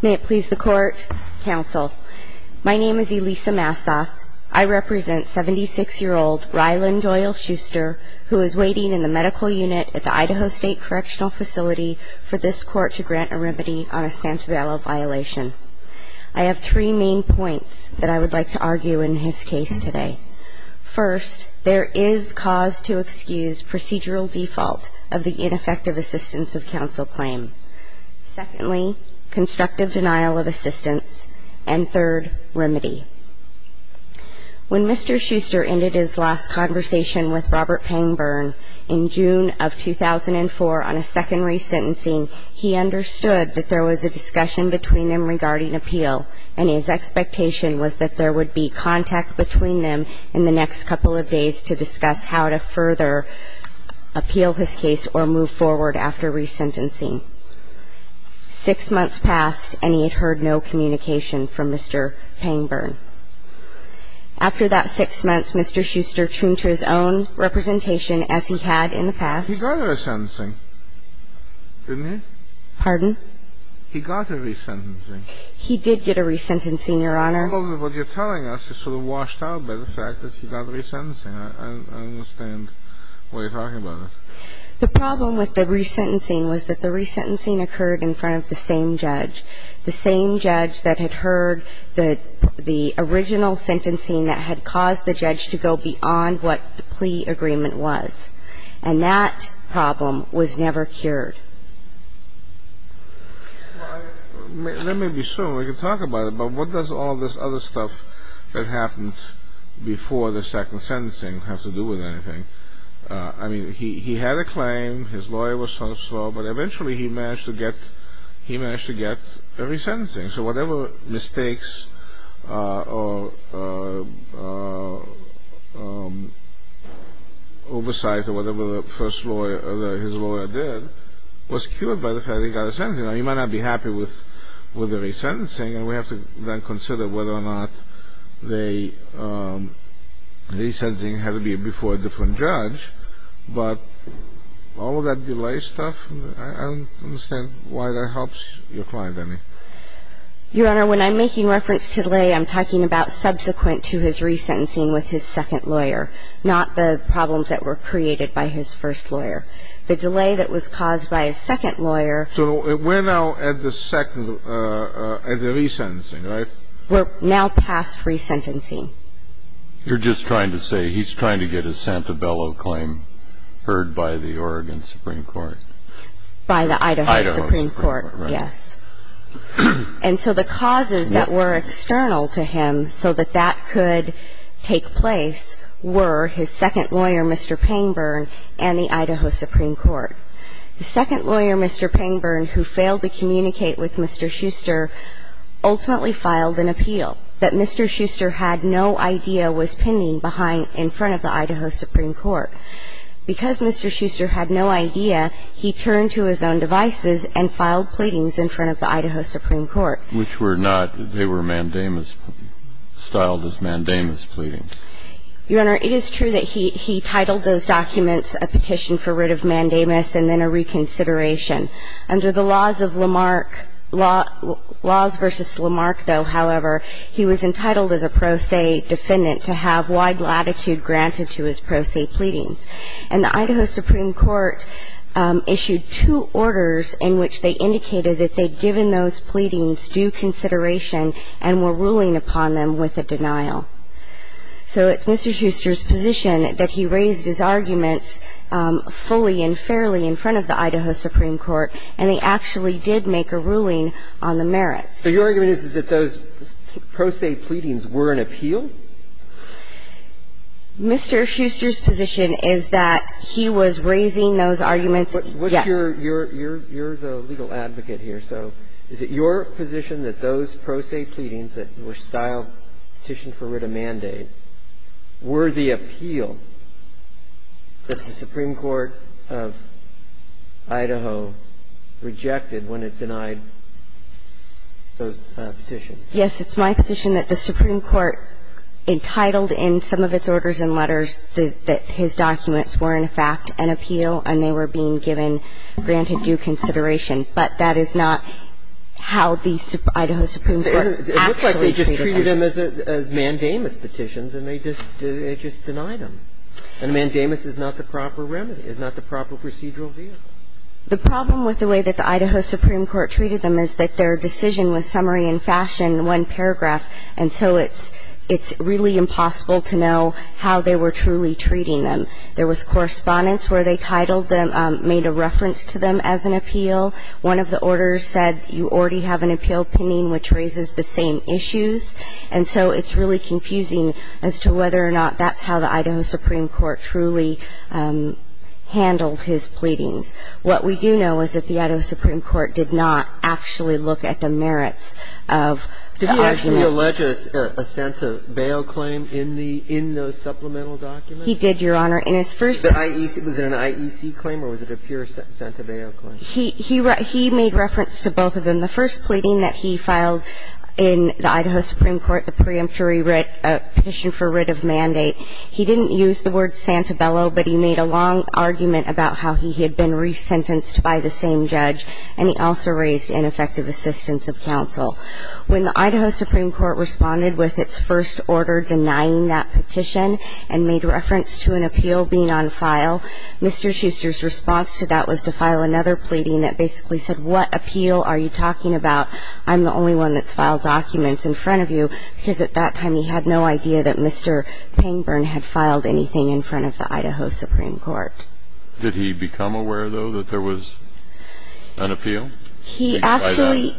May it please the Court, Counsel. My name is Elisa Massa. I represent 76-year-old Ryland Doyle Schuster, who is waiting in the medical unit at the Idaho State Correctional Facility for this Court to grant a remedy on a Santabello violation. I have three main points that I would like to argue in his case today. First, there is cause to excuse procedural default of the ineffective assistance of counsel claim. Secondly, constructive denial of assistance. And third, remedy. When Mr. Schuster ended his last conversation with Robert Pangburn in June of 2004 on a second resentencing, he understood that there was a discussion between them regarding appeal. And his expectation was that there would be contact between them in the next couple of days to discuss how to further appeal his case or move forward after resentencing. Six months passed, and he had heard no communication from Mr. Pangburn. After that six months, Mr. Schuster tuned to his own representation as he had in the past. He got a resentencing, didn't he? Pardon? He got a resentencing. He did get a resentencing, Your Honor. Well, what you're telling us is sort of washed out by the fact that he got a resentencing. I understand what you're talking about. The problem with the resentencing was that the resentencing occurred in front of the same judge, the same judge that had heard the original sentencing that had caused the judge to go beyond what the plea agreement was. And that problem was never cured. Let me be sure we can talk about it, but what does all this other stuff that happened before the second sentencing have to do with anything? I mean, he had a claim, his lawyer was so-and-so, but eventually he managed to get a resentencing. So whatever mistakes or oversight or whatever his lawyer did was cured by the fact that he got a sentencing. Now, he might not be happy with the resentencing, and we have to then consider whether or not the resentencing had to be before a different judge. But all of that delay stuff, I don't understand why that helps your client any. Your Honor, when I'm making reference to delay, I'm talking about subsequent to his resentencing with his second lawyer, not the problems that were created by his first lawyer. The delay that was caused by his second lawyer – So we're now at the second – at the resentencing, right? We're now past resentencing. You're just trying to say he's trying to get his Santabello claim heard by the Oregon Supreme Court? By the Idaho Supreme Court, yes. And so the causes that were external to him so that that could take place were his second lawyer, Mr. Payne Byrne, and the Idaho Supreme Court. The second lawyer, Mr. Payne Byrne, who failed to communicate with Mr. Schuster, ultimately filed an appeal that Mr. Schuster had no idea was pending behind – in front of the Idaho Supreme Court. Because Mr. Schuster had no idea, he turned to his own devices and filed pleadings in front of the Idaho Supreme Court. Which were not – they were mandamus – styled as mandamus pleadings. Your Honor, it is true that he titled those documents a petition for writ of mandamus and then a reconsideration. Under the laws of Lamarck – laws versus Lamarck, though, however, he was entitled as a pro se defendant to have wide latitude granted to his pro se pleadings. And the Idaho Supreme Court issued two orders in which they indicated that they'd given those pleadings due consideration and were ruling upon them with a denial. So it's Mr. Schuster's position that he raised his arguments fully and fairly in front of the Idaho Supreme Court, and they actually did make a ruling on the merits. So your argument is that those pro se pleadings were an appeal? Mr. Schuster's position is that he was raising those arguments – yes. What's your – you're the legal advocate here, so is it your position that those pro se pleadings that were styled petition for writ of mandate were the appeal that the Supreme Court of Idaho rejected when it denied those petitions? Yes. It's my position that the Supreme Court entitled in some of its orders and letters that his documents were, in fact, an appeal and they were being given, granted due consideration. But that is not how the Idaho Supreme Court actually treated them. It looks like they just treated them as mandamus petitions and they just denied them. And a mandamus is not the proper remedy, is not the proper procedural view. The problem with the way that the Idaho Supreme Court treated them is that their decision was summary in fashion, one paragraph. And so it's really impossible to know how they were truly treating them. There was correspondence where they titled them, made a reference to them as an appeal. One of the orders said you already have an appeal pending which raises the same issues. And so it's really confusing as to whether or not that's how the Idaho Supreme Court truly handled his pleadings. What we do know is that the Idaho Supreme Court did not actually look at the merits of the arguments. Did he actually allege a sense of bail claim in the – in those supplemental documents? He did, Your Honor. In his first – Was it an IEC claim or was it a pure Santabello claim? He made reference to both of them. The first pleading that he filed in the Idaho Supreme Court, the preemptory petition for writ of mandate, he didn't use the word Santabello, but he made a long argument about how he had been resentenced by the same judge, and he also raised ineffective assistance of counsel. When the Idaho Supreme Court responded with its first order denying that petition and made reference to an appeal being on file, Mr. Shuster's response to that was to file another pleading that basically said, what appeal are you talking about? I'm the only one that's filed documents in front of you, because at that time he had no idea that Mr. Pangburn had filed anything in front of the Idaho Supreme Court. Did he become aware, though, that there was an appeal? He actually,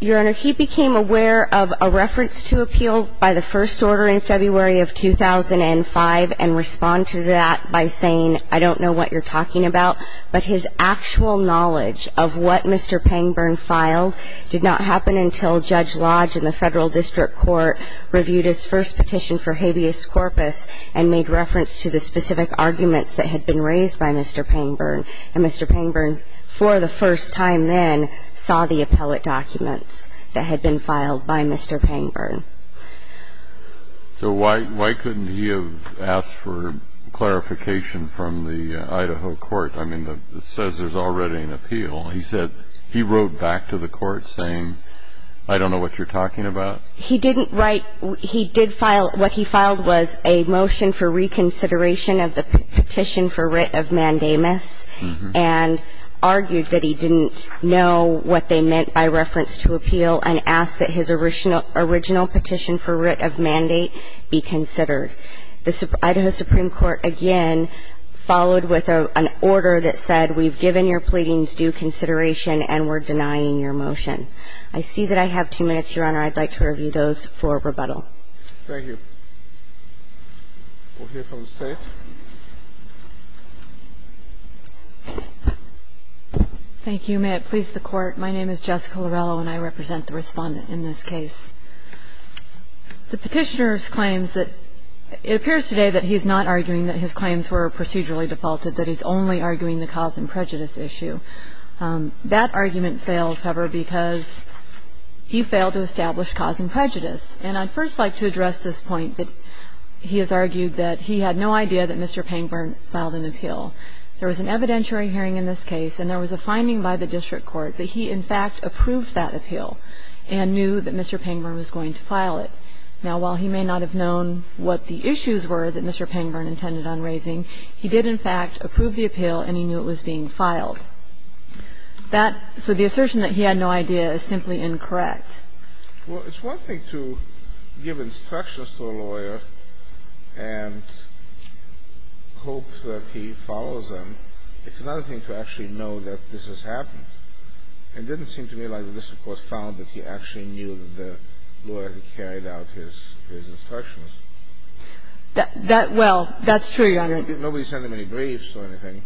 Your Honor, he became aware of a reference to appeal by the first order in February of 2005 and responded to that by saying, I don't know what you're talking about, but his actual knowledge of what Mr. Pangburn filed did not happen until Judge Lodge in the Federal District Court reviewed his first petition for habeas corpus and made reference to the specific arguments that had been raised by Mr. Pangburn. And Mr. Pangburn, for the first time then, saw the appellate documents that had been filed by Mr. Pangburn. So why couldn't he have asked for clarification from the Idaho court? I mean, it says there's already an appeal. He said he wrote back to the court saying, I don't know what you're talking about. He didn't write. He did file. What he filed was a motion for reconsideration of the petition for writ of mandamus and argued that he didn't know what they meant by reference to appeal and asked that his original petition for writ of mandate be considered. The Idaho Supreme Court again followed with an order that said we've given your pleadings due consideration and we're denying your motion. I see that I have two minutes, Your Honor. I'd like to review those for rebuttal. Thank you. We'll hear from the State. Thank you. May it please the Court. My name is Jessica Lorello and I represent the Respondent in this case. The Petitioner's claims that it appears today that he is not arguing that his claims were procedurally defaulted, that he's only arguing the cause and prejudice issue. That argument fails, however, because he failed to establish cause and prejudice. And I'd first like to address this point that he has argued that he had no idea that Mr. Pangburn filed an appeal. There was an evidentiary hearing in this case and there was a finding by the district court that he, in fact, approved that appeal and knew that Mr. Pangburn was going to file it. Now, while he may not have known what the issues were that Mr. Pangburn intended on raising, he did, in fact, approve the appeal and he knew it was being filed. That so the assertion that he had no idea is simply incorrect. Well, it's one thing to give instructions to a lawyer and hope that he follows them. It's another thing to actually know that this has happened. And it didn't seem to me like the district court found that he actually knew that the lawyer had carried out his instructions. That, well, that's true, Your Honor. Nobody sent him any briefs or anything.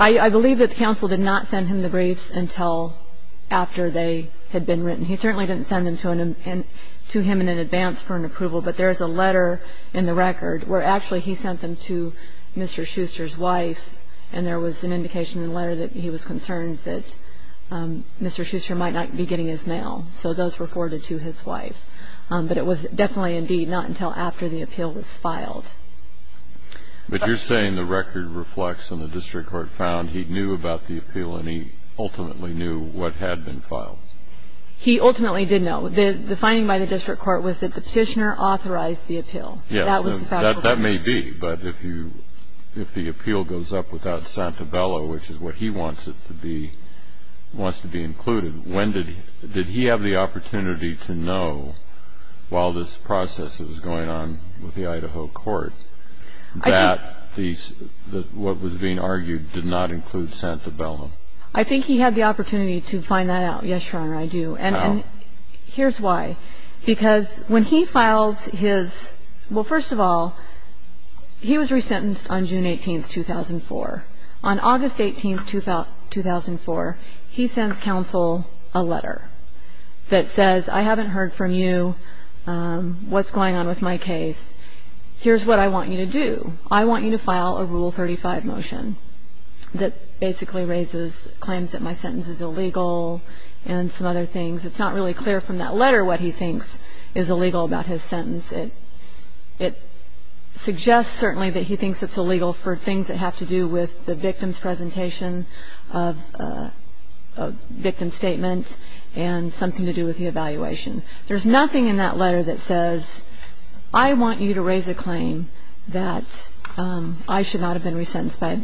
I believe that the counsel did not send him the briefs until after they had been written. He certainly didn't send them to him in advance for an approval, but there is a letter in the record where actually he sent them to Mr. Schuster's wife and there was an indication in the letter that he was concerned that Mr. Schuster might not be getting his mail. So those were forwarded to his wife. But it was definitely, indeed, not until after the appeal was filed. But you're saying the record reflects and the district court found he knew about the appeal and he ultimately knew what had been filed. He ultimately did know. The finding by the district court was that the petitioner authorized the appeal. Yes. That was the fact of the matter. That may be. But if you, if the appeal goes up without Santabella, which is what he wants it to be, wants to be included, when did he, did he have the opportunity to know while this process was going on with the Idaho court that the, what was being argued did not include Santabella? I think he had the opportunity to find that out. Yes, Your Honor, I do. How? And here's why. Because when he files his, well, first of all, he was resentenced on June 18, 2004. On August 18, 2004, he sends counsel a letter that says, I haven't heard from you. What's going on with my case? Here's what I want you to do. I want you to file a Rule 35 motion that basically raises claims that my sentence is illegal and some other things. It's not really clear from that letter what he thinks is illegal about his sentence. It suggests certainly that he thinks it's illegal for things that have to do with the victim's presentation of a victim's statement and something to do with the evaluation. There's nothing in that letter that says, I want you to raise a claim that I should not have been resentenced by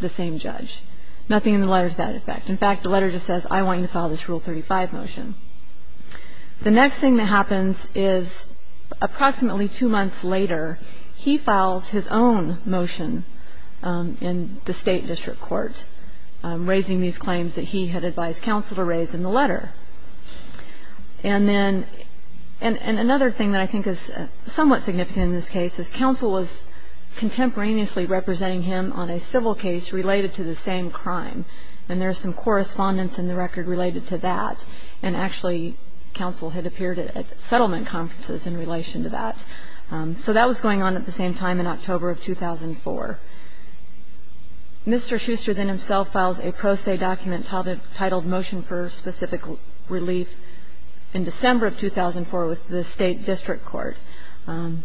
the same judge. Nothing in the letter is that effect. In fact, the letter just says, I want you to file this Rule 35 motion. The next thing that happens is approximately two months later, he files his own motion in the State District Court raising these claims that he had advised counsel to raise in the letter. And then another thing that I think is somewhat significant in this case is counsel was contemporaneously representing him on a civil case related to the same crime, and there's some correspondence in the record related to that. And actually, counsel had appeared at settlement conferences in relation to that. So that was going on at the same time in October of 2004. Mr. Schuster then himself files a pro se document titled Motion for Specific Relief in December of 2004 with the State District Court. And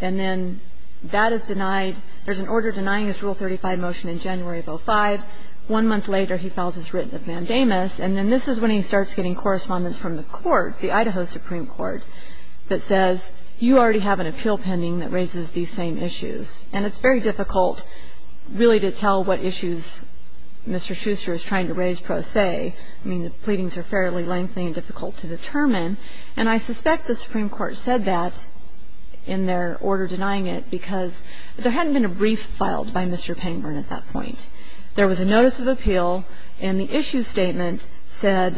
then that is denied. There's an order denying his Rule 35 motion in January of 2005. One month later, he files his written mandamus. And then this is when he starts getting correspondence from the court, the Idaho Supreme Court, that says, you already have an appeal pending that raises these same issues. And it's very difficult really to tell what issues Mr. Schuster is trying to raise pro se. I mean, the pleadings are fairly lengthy and difficult to determine. And I suspect the Supreme Court said that in their order denying it because there hadn't been a brief filed by Mr. Payneburn at that point. There was a notice of appeal, and the issue statement said,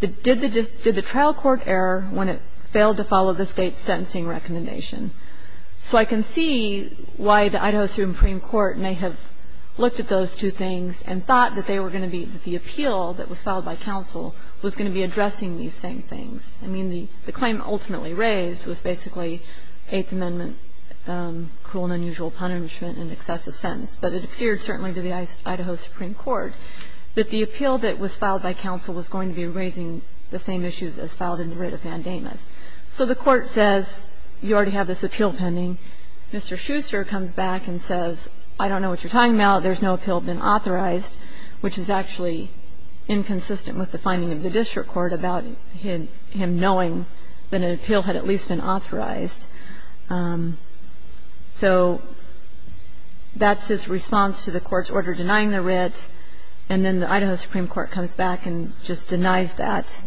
did the trial court err when it failed to follow the State's sentencing recommendation? So I can see why the Idaho Supreme Court may have looked at those two things and thought that they were going to be the appeal that was filed by counsel was going to be addressing these same things. I mean, the claim ultimately raised was basically Eighth Amendment cruel and unusual punishment and excessive sentence. But it appeared certainly to the Idaho Supreme Court that the appeal that was filed by counsel was going to be raising the same issues as filed in the writ of mandamus. So the court says, you already have this appeal pending. Mr. Schuster comes back and says, I don't know what you're talking about. There's no appeal been authorized, which is actually inconsistent with the finding of the district court about him knowing that an appeal had at least been authorized. So that's his response to the court's order denying the writ. And then the Idaho Supreme Court comes back and just denies that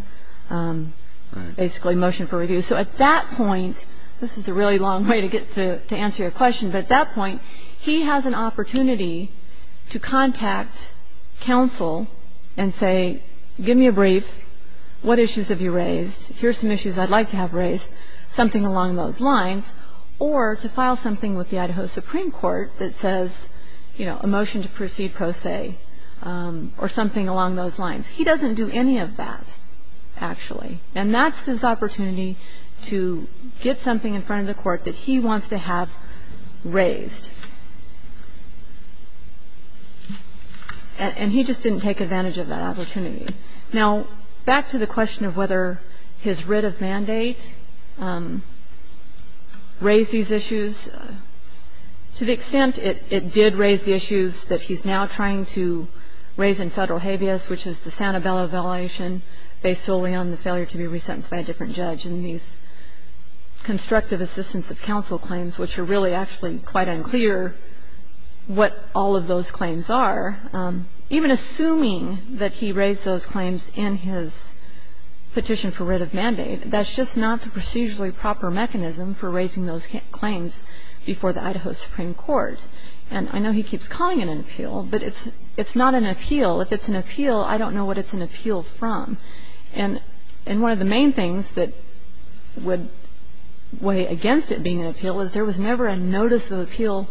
basically motion for review. So at that point, this is a really long way to get to answer your question, but at that point, he has an opportunity to contact counsel and say, give me a brief. What issues have you raised? Here's some issues I'd like to have raised, something along those lines, or to file something with the Idaho Supreme Court that says, you know, a motion to proceed pro se or something along those lines. He doesn't do any of that, actually. And that's his opportunity to get something in front of the court that he wants to have raised. And he just didn't take advantage of that opportunity. Now, back to the question of whether his writ of mandate raised these issues, to the extent it did raise the issues that he's now trying to raise in Federal habeas, which is the Santabella validation based solely on the failure to be resentenced by a different judge in these constructive assistance of counsel claims, which are really actually quite unclear what all of those claims are. Even assuming that he raised those claims in his petition for writ of mandate, that's just not the procedurally proper mechanism for raising those claims before the Idaho Supreme Court. And I know he keeps calling it an appeal, but it's not an appeal. If it's an appeal, I don't know what it's an appeal from. And one of the main things that would weigh against it being an appeal is there was never a notice of appeal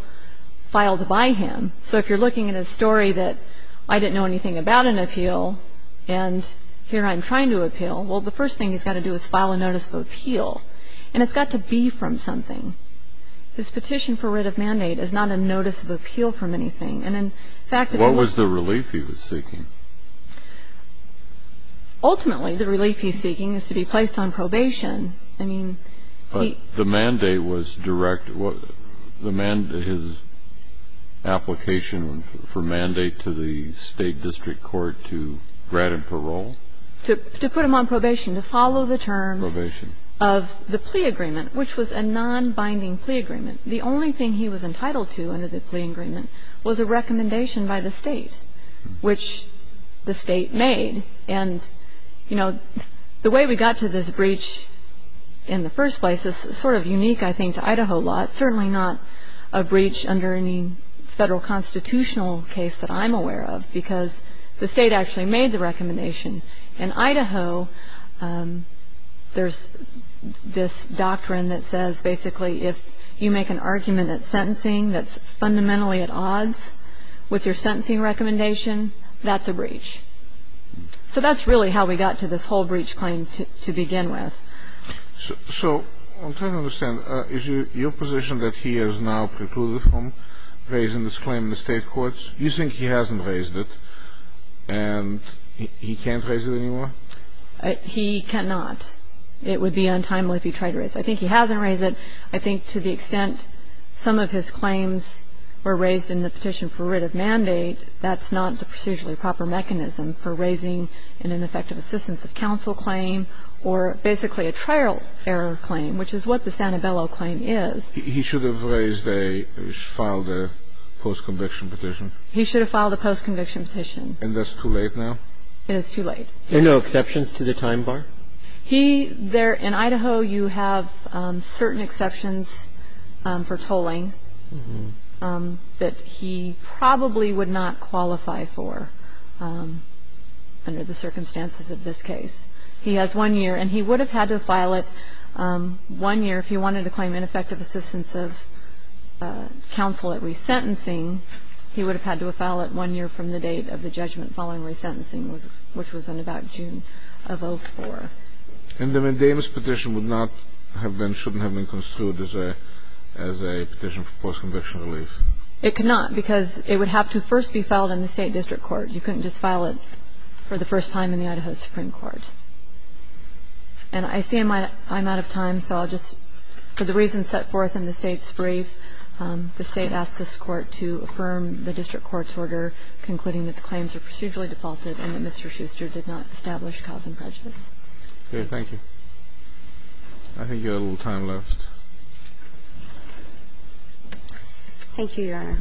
filed by him. So if you're looking at a story that I didn't know anything about an appeal, and here I'm trying to appeal, well, the first thing he's got to do is file a notice of appeal. And it's got to be from something. This petition for writ of mandate is not a notice of appeal from anything. And, in fact, it was. Kennedy, what was the relief he was seeking? Ultimately, the relief he's seeking is to be placed on probation. I mean, he ---- But the mandate was direct. His application for mandate to the State district court to grant him parole? To put him on probation, to follow the terms of the plea agreement, which was a nonbinding plea agreement. The only thing he was entitled to under the plea agreement was a recommendation by the State, which the State made. And, you know, the way we got to this breach in the first place is sort of unique, I think, to Idaho law. It's certainly not a breach under any federal constitutional case that I'm aware of, because the State actually made the recommendation. In Idaho, there's this doctrine that says basically if you make an argument that's sentencing that's fundamentally at odds with your sentencing recommendation, that's a breach. So that's really how we got to this whole breach claim to begin with. So I'm trying to understand. Is your position that he has now precluded from raising this claim in the State courts? You think he hasn't raised it and he can't raise it anymore? He cannot. It would be untimely if he tried to raise it. I think he hasn't raised it. I think to the extent some of his claims were raised in the petition for writ of mandate, that's not the procedurally proper mechanism for raising an ineffective assistance of counsel claim or basically a trial error claim, which is what the Santabello claim is. He should have raised a or filed a post-conviction petition. He should have filed a post-conviction petition. And that's too late now? It is too late. Are there no exceptions to the time bar? He there in Idaho, you have certain exceptions for tolling that he probably would not qualify for under the circumstances of this case. He has one year, and he would have had to file it one year if he wanted to claim an ineffective assistance of counsel at resentencing. He would have had to file it one year from the date of the judgment following resentencing, which was in about June of 2004. And the Mandamus petition would not have been, shouldn't have been construed as a petition for post-conviction relief? It could not, because it would have to first be filed in the State district court. You couldn't just file it for the first time in the Idaho Supreme Court. And I see I'm out of time, so I'll just, for the reasons set forth in the State's brief, the State asks this Court to affirm the district court's order concluding that the claims are procedurally defaulted and that Mr. Schuster did not establish cause and prejudice. Okay. Thank you. I think you have a little time left. Thank you, Your Honor.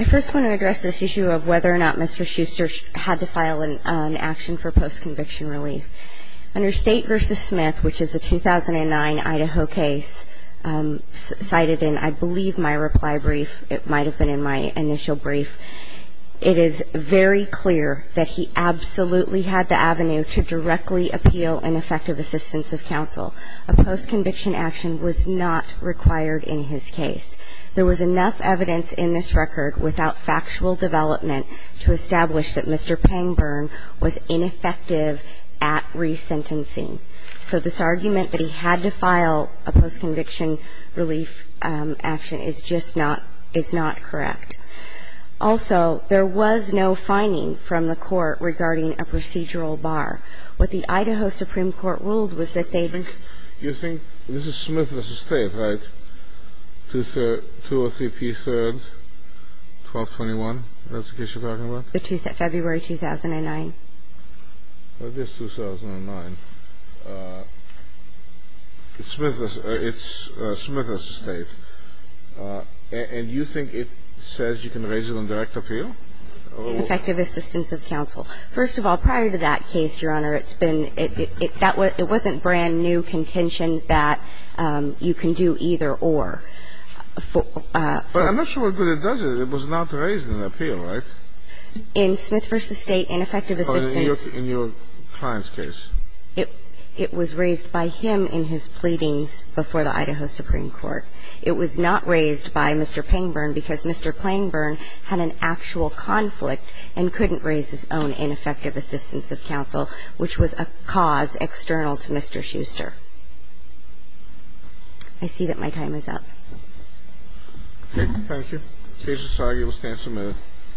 I first want to address this issue of whether or not Mr. Schuster had to file an action for post-conviction relief. Under State v. Smith, which is a 2009 Idaho case cited in, I believe, my reply brief, it might have been in my initial brief, it is very clear that he absolutely had the avenue to directly appeal an effective assistance of counsel. A post-conviction action was not required in his case. There was enough evidence in this record without factual development to establish that Mr. Pangburn was ineffective at resentencing. So this argument that he had to file a post-conviction relief action is just not ‑‑ is not correct. Also, there was no finding from the Court regarding a procedural bar. What the Idaho Supreme Court ruled was that they ‑‑ Do you think ‑‑ this is Smith v. State, right? 203p3, 1221, that's the case you're talking about? February 2009. It is 2009. It's Smith v. State. And you think it says you can raise it in direct appeal? In effective assistance of counsel. First of all, prior to that case, Your Honor, it's been ‑‑ it wasn't brand-new contention that you can do either or. But I'm not sure what good it does. It was not raised in appeal, right? In Smith v. State, in effective assistance ‑‑ In your client's case. It was raised by him in his pleadings before the Idaho Supreme Court. It was not raised by Mr. Pangburn because Mr. Pangburn had an actual conflict and couldn't raise his own ineffective assistance of counsel, which was a cause external to Mr. Schuster. I see that my time is up. Thank you. Case is argued. We'll stand for a minute.